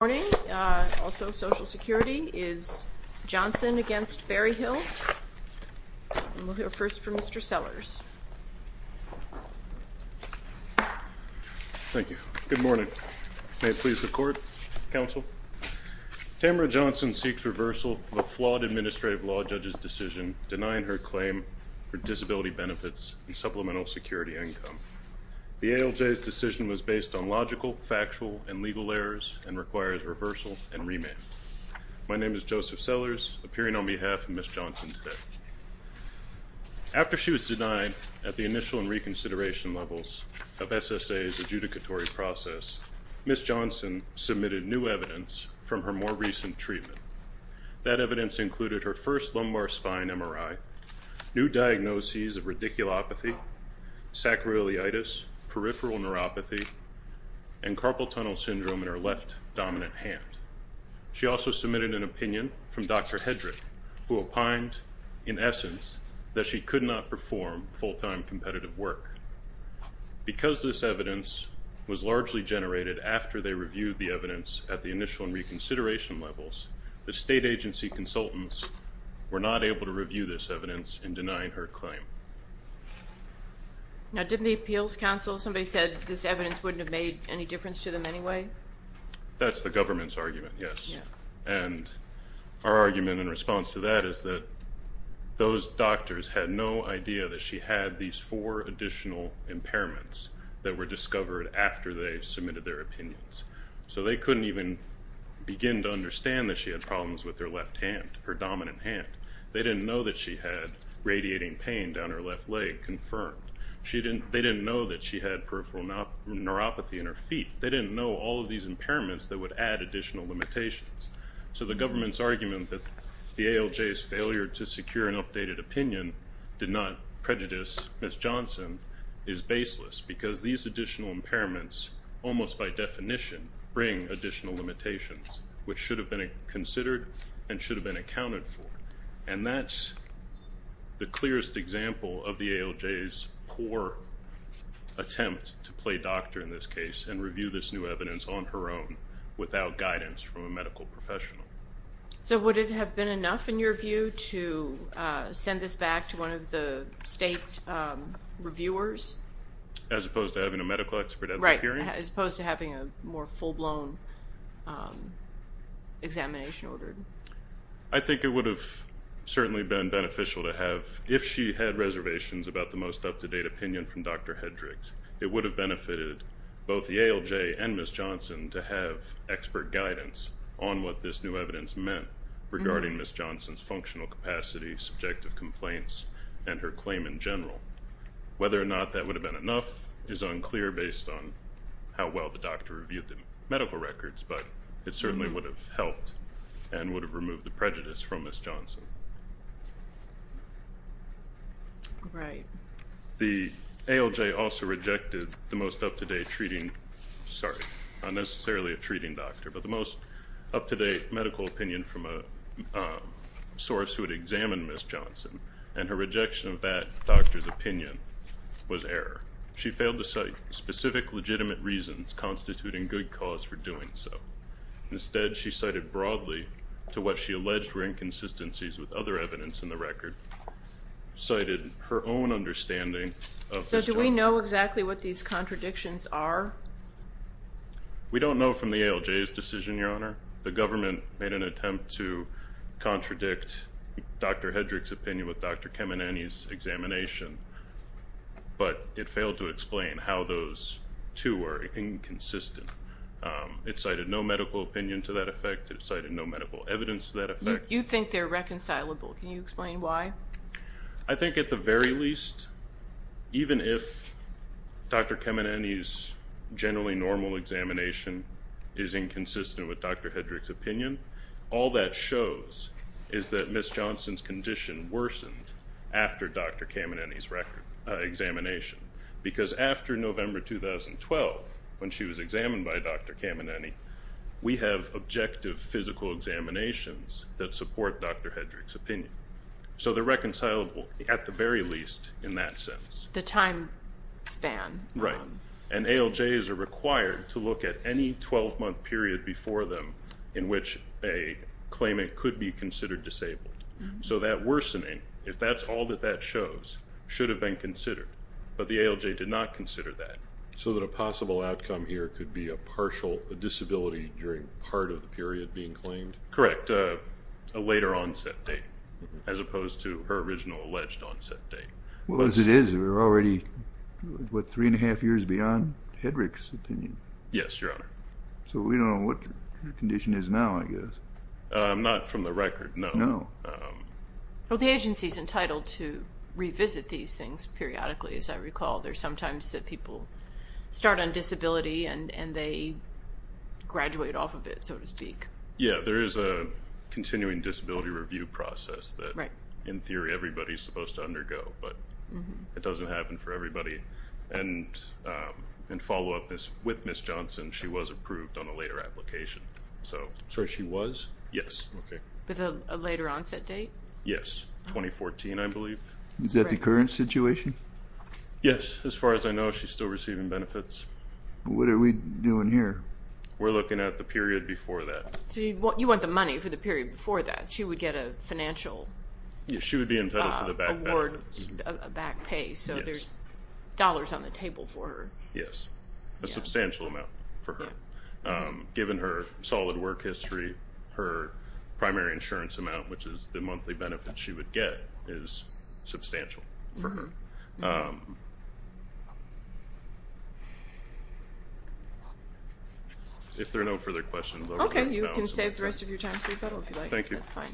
Good morning. Also, Social Security is Johnson against Berryhill. We'll hear first from Mr. Sellers. Thank you. Good morning. May it please the Court, Counsel? Tamara Johnson seeks reversal of a flawed administrative law judge's decision denying her claim for disability benefits and supplemental security income. The ALJ's decision was based on logical, factual, and legal errors and requires reversal and remand. My name is Joseph Sellers, appearing on behalf of Ms. Johnson today. After she was denied at the initial and reconsideration levels of SSA's adjudicatory process, Ms. Johnson submitted new evidence from her more recent treatment. That evidence included her first lumbar spine MRI, new diagnoses of radiculopathy, sacroiliitis, peripheral neuropathy, and carpal tunnel syndrome in her left dominant hand. She also submitted an opinion from Dr. Hedrick, who opined, in essence, that she could not perform full-time competitive work. Because this evidence was largely generated after they reviewed the evidence at the initial and reconsideration levels, the state agency consultants were not able to review this evidence in denying her claim. Now, didn't the Appeals Council, somebody said this evidence wouldn't have made any difference to them anyway? That's the government's argument, yes. And our argument in response to that is that those doctors had no idea that she had these four additional impairments that were discovered after they submitted their opinions. So they couldn't even begin to understand that she had problems with her left hand, her dominant hand. They didn't know that she had radiating pain down her left leg confirmed. They didn't know that she had peripheral neuropathy in her feet. They didn't know all of these impairments that would add additional limitations. So the government's argument that the ALJ's failure to secure an updated opinion did not prejudice Ms. Johnson is baseless, because these additional impairments almost by definition bring additional limitations, which should have been considered and should have been accounted for. And that's the clearest example of the ALJ's poor attempt to play doctor in this case and review this new evidence on her own without guidance from a medical professional. So would it have been enough in your view to send this back to one of the state reviewers? As opposed to having a medical expert at the hearing? Right, as opposed to having a more full-blown examination ordered. I think it would have certainly been beneficial to have, if she had reservations about the most up-to-date opinion from Dr. Hedrick, it would have benefited both the ALJ and Ms. Johnson to have expert guidance on what this new evidence meant regarding Ms. Johnson's functional capacity, subjective complaints, and her claim in general. Whether or not that would have been enough is unclear based on how well the doctor reviewed the medical records, but it certainly would have helped and would have removed the prejudice from Ms. Johnson. The ALJ also rejected the most up-to-date treating, sorry, not necessarily a treating doctor, but the most up-to-date medical opinion from a source who had examined Ms. Johnson, and her rejection of that doctor's opinion was error. She failed to cite specific legitimate reasons constituting good cause for doing so. Instead, she cited broadly to what she alleged were inconsistencies with other evidence in the record, cited her own understanding of Ms. Johnson. So do we know exactly what these contradictions are? We don't know from the ALJ's decision, Your Honor. The government made an attempt to contradict Dr. Hedrick's opinion with Dr. Kemenany's examination, but it failed to explain how those two were inconsistent. It cited no medical opinion to that effect. It cited no medical evidence to that effect. You think they're reconcilable. Can you explain why? I think at the very least, even if Dr. Kemenany's generally normal examination is inconsistent with Dr. Hedrick's opinion, all that shows is that Ms. Johnson's condition worsened after Dr. Kemenany's examination, because after November 2012, when she was examined by Dr. Kemenany, we have objective physical examinations that support Dr. Hedrick's opinion. So they're reconcilable at the very least in that sense. The time span. Right. And ALJs are required to look at any 12-month period before them in which a claimant could be considered disabled. So that worsening, if that's all that that shows, should have been considered. But the ALJ did not consider that. So that a possible outcome here could be a partial disability during part of the period being claimed? Correct. A later onset date, as opposed to her original alleged onset date. Well, as it is, we're already, what, three and a half years beyond Hedrick's opinion. Yes, Your Honor. So we don't know what her condition is now, I guess. Not from the record, no. No. Well, the agency's entitled to revisit these things periodically, as I recall. There's sometimes that people start on disability and they graduate off of it, so to speak. Yeah, there is a continuing disability review process that, in theory, everybody's supposed to undergo. But it doesn't happen for everybody. And in follow-up with Ms. Johnson, she was approved on a later application. So she was? Yes. Okay. With a later onset date? Yes. 2014, I believe. Is that the current situation? Yes. As far as I know, she's still receiving benefits. What are we doing here? We're looking at the period before that. So you want the money for the period before that. She would get a financial award. She would be entitled to the back pay. So there's dollars on the table for her. Yes. A substantial amount for her. Given her solid work history, her primary insurance amount, which is the monthly benefit she would get, is substantial for her. If there are no further questions. Okay. You can save the rest of your time for rebuttal, if you'd like. Thank you. That's fine.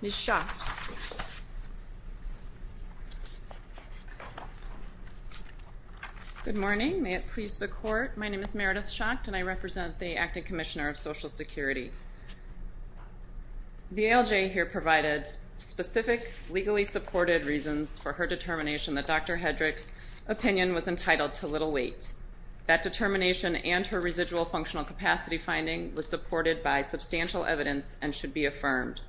Ms. Schacht. Good morning. May it please the Court. My name is Meredith Schacht, and I represent the Acting Commissioner of Social Security. The ALJ here provided specific legally supported reasons for her determination that Dr. Hedrick's opinion was entitled to little weight. That determination and her residual functional capacity finding was supported by substantial evidence and should be affirmed.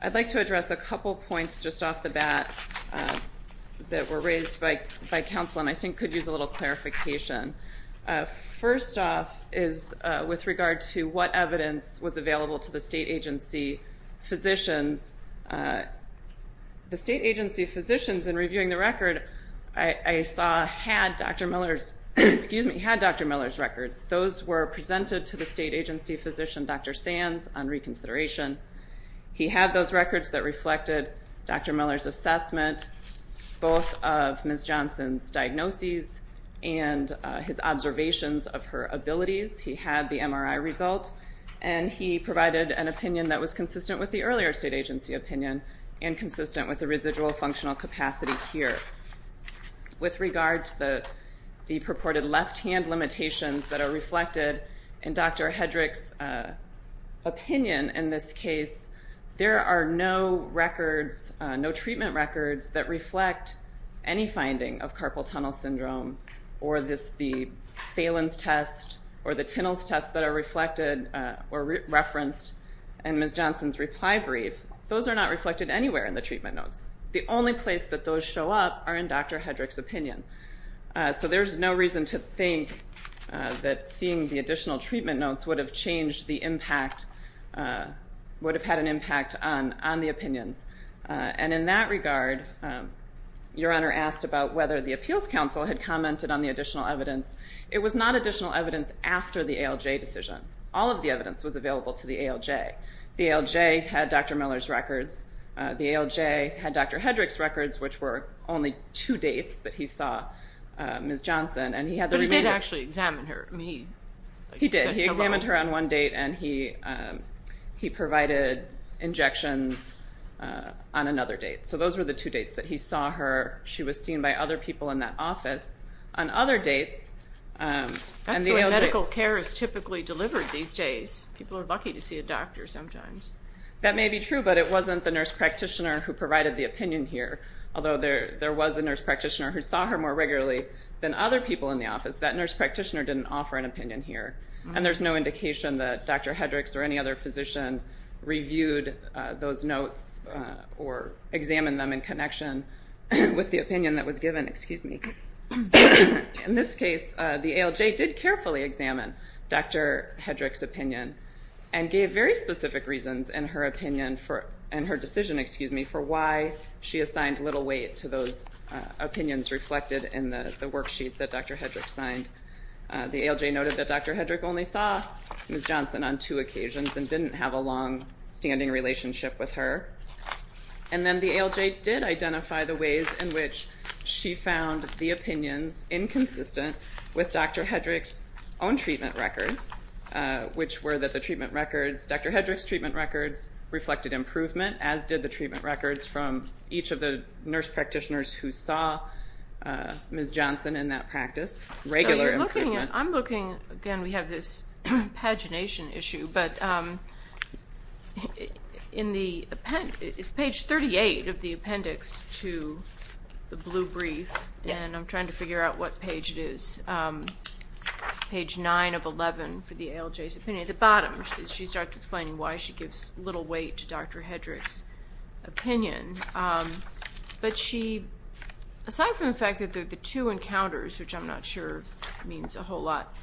I'd like to address a couple points just off the bat that were raised by counsel and I think could use a little clarification. First off is with regard to what evidence was available to the state agency physicians. The state agency physicians in reviewing the record I saw had Dr. Miller's records. Those were presented to the state agency physician, Dr. Sands, on reconsideration. He had those records that reflected Dr. Miller's assessment, both of Ms. Johnson's diagnoses and his observations of her abilities. He had the MRI result, and he provided an opinion that was consistent with the earlier state agency opinion and consistent with the residual functional capacity here. With regard to the purported left-hand limitations that are reflected in Dr. Hedrick's opinion in this case, there are no records, no treatment records that reflect any finding of carpal tunnel syndrome or the Phelan's test or the Tinnell's test that are reflected or referenced in Ms. Johnson's reply brief. Those are not reflected anywhere in the treatment notes. The only place that those show up are in Dr. Hedrick's opinion. So there's no reason to think that seeing the additional treatment notes would have changed the impact, would have had an impact on the opinions. And in that regard, Your Honor asked about whether the appeals counsel had commented on the additional evidence. It was not additional evidence after the ALJ decision. All of the evidence was available to the ALJ. The ALJ had Dr. Miller's records. The ALJ had Dr. Hedrick's records, which were only two dates that he saw Ms. Johnson. But he did actually examine her. He did. He examined her on one date, and he provided injections on another date. So those were the two dates that he saw her. She was seen by other people in that office on other dates. That's the way medical care is typically delivered these days. People are lucky to see a doctor sometimes. That may be true, but it wasn't the nurse practitioner who provided the opinion here, although there was a nurse practitioner who saw her more regularly than other people in the office. That nurse practitioner didn't offer an opinion here, and there's no indication that Dr. Hedrick's or any other physician reviewed those notes or examined them in connection with the opinion that was given. Excuse me. In this case, the ALJ did carefully examine Dr. Hedrick's opinion and gave very specific reasons in her decision for why she assigned little weight to those opinions reflected in the worksheet that Dr. Hedrick signed. The ALJ noted that Dr. Hedrick only saw Ms. Johnson on two occasions and didn't have a longstanding relationship with her. And then the ALJ did identify the ways in which she found the opinions inconsistent with Dr. Hedrick's own treatment records, which were that the treatment records, Dr. Hedrick's treatment records reflected improvement, as did the treatment records from each of the nurse practitioners who saw Ms. Johnson in that practice. Regular improvement. Again, we have this pagination issue, but it's page 38 of the appendix to the blue brief, and I'm trying to figure out what page it is. It's page 9 of 11 for the ALJ's opinion. At the bottom, she starts explaining why she gives little weight to Dr. Hedrick's opinion. But she, aside from the fact that they're the two encounters, which I'm not sure means a whole lot,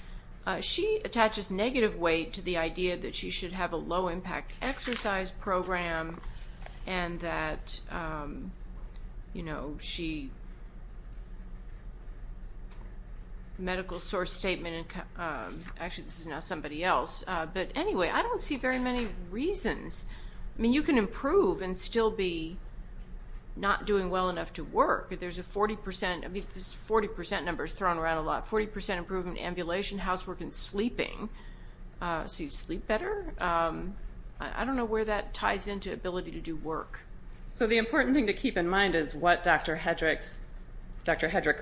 she attaches negative weight to the idea that she should have a low-impact exercise program and that, you know, she, medical source statement, actually this is now somebody else, but anyway, I don't see very many reasons. I mean, you can improve and still be not doing well enough to work. There's a 40 percent, I mean, this 40 percent number is thrown around a lot, 40 percent improvement in ambulation, housework, and sleeping. So you sleep better? I don't know where that ties into ability to do work. So the important thing to keep in mind is what Dr. Hedrick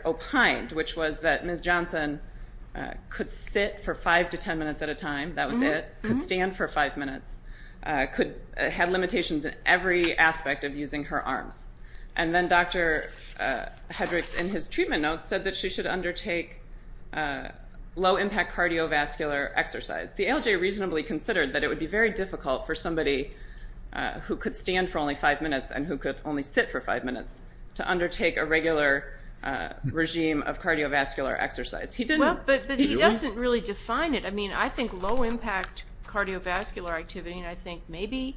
opined, which was that Ms. Johnson could sit for 5 to 10 minutes at a time, that was it, could stand for 5 minutes, had limitations in every aspect of using her arms. And then Dr. Hedrick, in his treatment notes, said that she should undertake low-impact cardiovascular exercise. The ALJ reasonably considered that it would be very difficult for somebody who could stand for only 5 minutes and who could only sit for 5 minutes to undertake a regular regime of cardiovascular exercise. But he doesn't really define it. I mean, I think low-impact cardiovascular activity, and I think maybe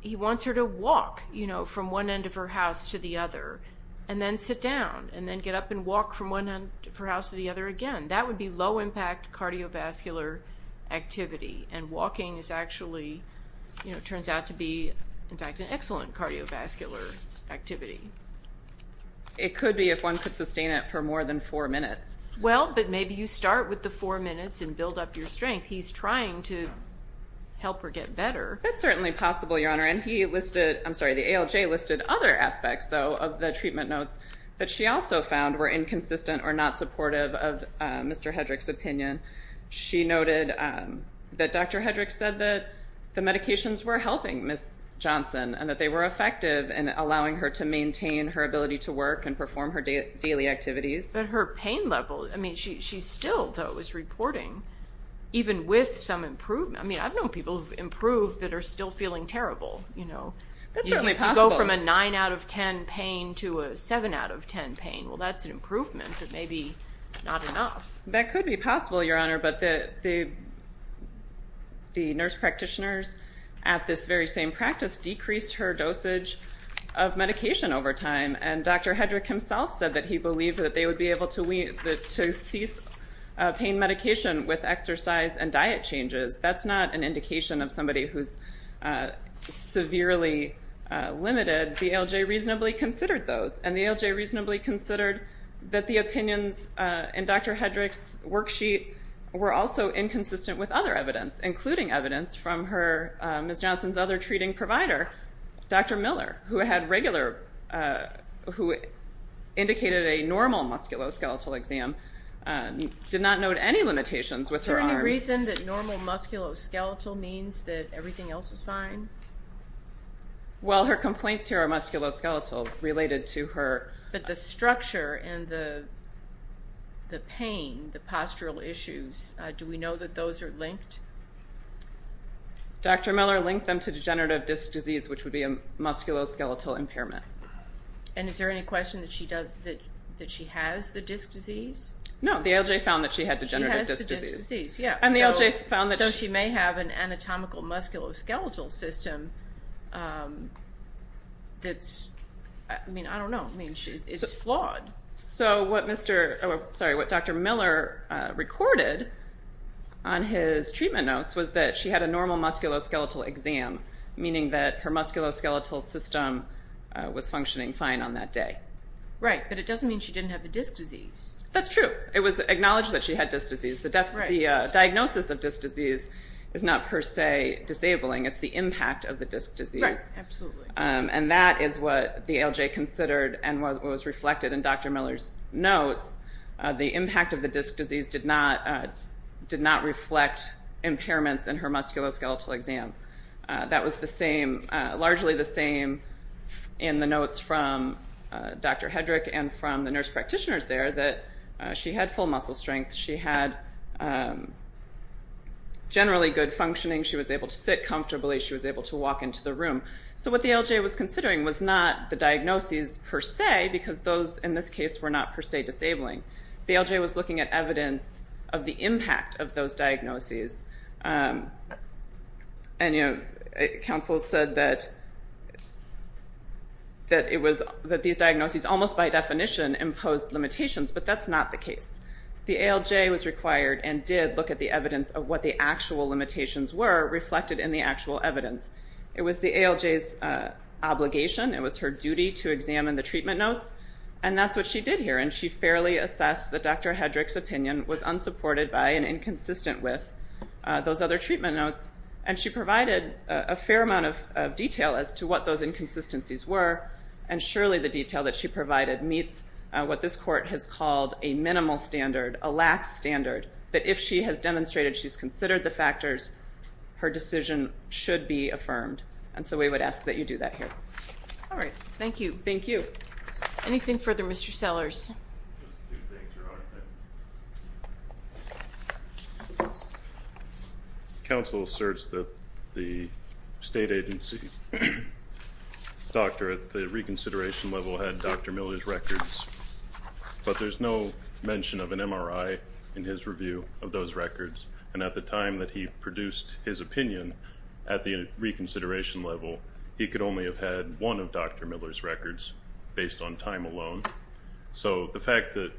he wants her to walk from one end of her house to the other, and then sit down, and then get up and walk from one end of her house to the other again. That would be low-impact cardiovascular activity, and walking is actually, it turns out to be, in fact, an excellent cardiovascular activity. It could be if one could sustain it for more than 4 minutes. Well, but maybe you start with the 4 minutes and build up your strength. He's trying to help her get better. That's certainly possible, Your Honor. And he listed, I'm sorry, the ALJ listed other aspects, though, of the treatment notes that she also found were inconsistent or not supportive of Mr. Hedrick's opinion. She noted that Dr. Hedrick said that the medications were helping Ms. Johnson and that they were effective in allowing her to maintain her ability to work and perform her daily activities. But her pain level, I mean, she still, though, is reporting, even with some improvement. I mean, I've known people who've improved but are still feeling terrible. That's certainly possible. You can go from a 9 out of 10 pain to a 7 out of 10 pain. Well, that's an improvement, but maybe not enough. That could be possible, Your Honor, but the nurse practitioners at this very same practice decreased her dosage of medication over time, and Dr. Hedrick himself said that he believed that they would be able to cease pain medication with exercise and diet changes. That's not an indication of somebody who's severely limited. The ALJ reasonably considered those, and the ALJ reasonably considered that the opinions in Dr. Hedrick's worksheet were also inconsistent with other evidence, including evidence from Ms. Johnson's other treating provider, Dr. Miller, who indicated a normal musculoskeletal exam, did not note any limitations with her arms. Is there any reason that normal musculoskeletal means that everything else is fine? Well, her complaints here are musculoskeletal related to her... But the structure and the pain, the postural issues, do we know that those are linked? Dr. Miller linked them to degenerative disc disease, which would be a musculoskeletal impairment. And is there any question that she has the disc disease? No, the ALJ found that she had degenerative disc disease. She has the disc disease, yes. So she may have an anatomical musculoskeletal system that's, I don't know, it's flawed. So what Dr. Miller recorded on his treatment notes was that she had a normal musculoskeletal exam, meaning that her musculoskeletal system was functioning fine on that day. Right, but it doesn't mean she didn't have the disc disease. That's true. It was acknowledged that she had disc disease. The diagnosis of disc disease is not per se disabling. It's the impact of the disc disease. Right, absolutely. And that is what the ALJ considered and what was reflected in Dr. Miller's notes. The impact of the disc disease did not reflect impairments in her musculoskeletal exam. That was largely the same in the notes from Dr. Hedrick and from the nurse practitioners there, that she had full muscle strength. She had generally good functioning. She was able to sit comfortably. She was able to walk into the room. So what the ALJ was considering was not the diagnoses per se, because those in this case were not per se disabling. The ALJ was looking at evidence of the impact of those diagnoses. And counsel said that these diagnoses almost by definition imposed limitations, but that's not the case. The ALJ was required and did look at the evidence of what the actual limitations were reflected in the actual evidence. It was the ALJ's obligation, it was her duty to examine the treatment notes, and that's what she did here, and she fairly assessed that Dr. Hedrick's opinion was unsupported by and inconsistent with those other treatment notes. And she provided a fair amount of detail as to what those inconsistencies were, and surely the detail that she provided meets what this court has called a minimal standard, a lax standard, that if she has demonstrated she's considered the factors, her decision should be affirmed. And so we would ask that you do that here. All right. Thank you. Thank you. Anything further, Mr. Sellers? Just two things, Your Honor. Counsel asserts that the state agency doctor at the reconsideration level had Dr. Miller's records, but there's no mention of an MRI in his review of those records, and at the time that he produced his opinion at the reconsideration level, he could only have had one of Dr. Miller's records based on time alone. So the fact that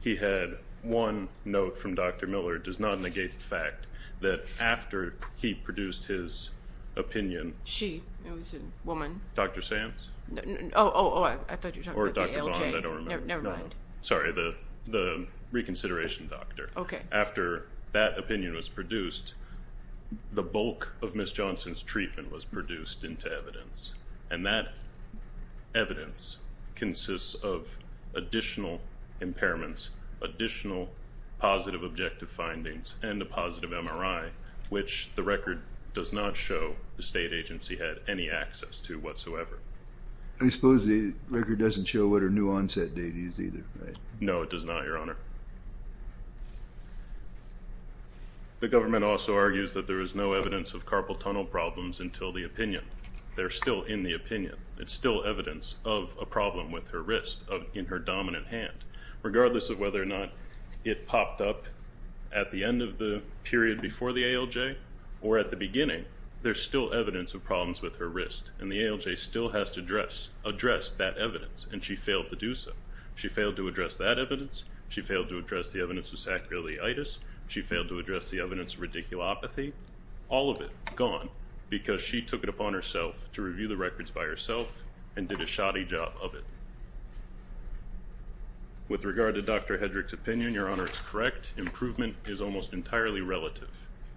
he had one note from Dr. Miller does not negate the fact that after he produced his opinion. She. It was a woman. Dr. Sands. Oh, I thought you were talking about the ALJ. Or Dr. Vaughn, I don't remember. Never mind. Sorry, the reconsideration doctor. Okay. After that opinion was produced, the bulk of Miss Johnson's treatment was produced into evidence, and that evidence consists of additional impairments, additional positive objective findings, and a positive MRI, which the record does not show the state agency had any access to whatsoever. I suppose the record doesn't show what her new onset date is either, right? No, it does not, Your Honor. The government also argues that there is no evidence of carpal tunnel problems until the opinion. They're still in the opinion. It's still evidence of a problem with her wrist in her dominant hand. Regardless of whether or not it popped up at the end of the period before the ALJ or at the beginning, there's still evidence of problems with her wrist, and the ALJ still has to address that evidence, and she failed to do so. She failed to address that evidence. She failed to address the evidence of sacroiliitis. She failed to address the evidence of radiculopathy. All of it gone because she took it upon herself to review the records by herself and did a shoddy job of it. With regard to Dr. Hedrick's opinion, Your Honor, it's correct. Improvement is almost entirely relative.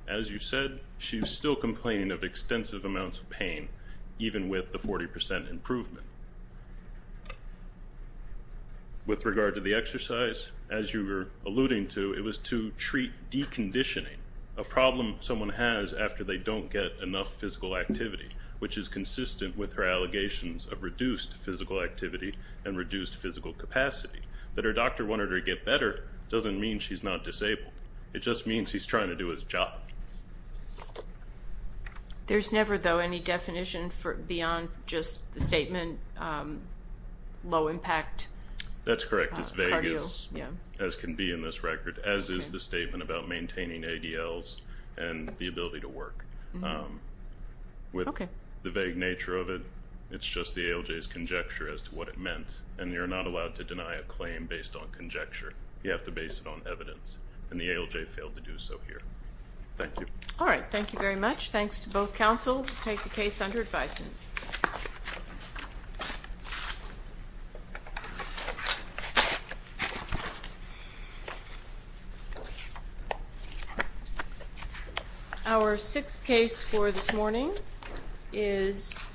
As you said, she's still complaining of extensive amounts of pain, even with the 40% improvement. With regard to the exercise, as you were alluding to, it was to treat deconditioning, a problem someone has after they don't get enough physical activity, which is consistent with her allegations of reduced physical activity and reduced physical capacity. That her doctor wanted her to get better doesn't mean she's not disabled. It just means he's trying to do his job. There's never, though, any definition beyond just the statement low impact. That's correct. It's vague, as can be in this record, as is the statement about maintaining ADLs and the ability to work. With the vague nature of it, it's just the ALJ's conjecture as to what it meant, and you're not allowed to deny a claim based on conjecture. You have to base it on evidence, and the ALJ failed to do so here. Thank you. All right. Thank you very much. Thanks to both counsel to take the case under advisement. Our sixth case for this morning is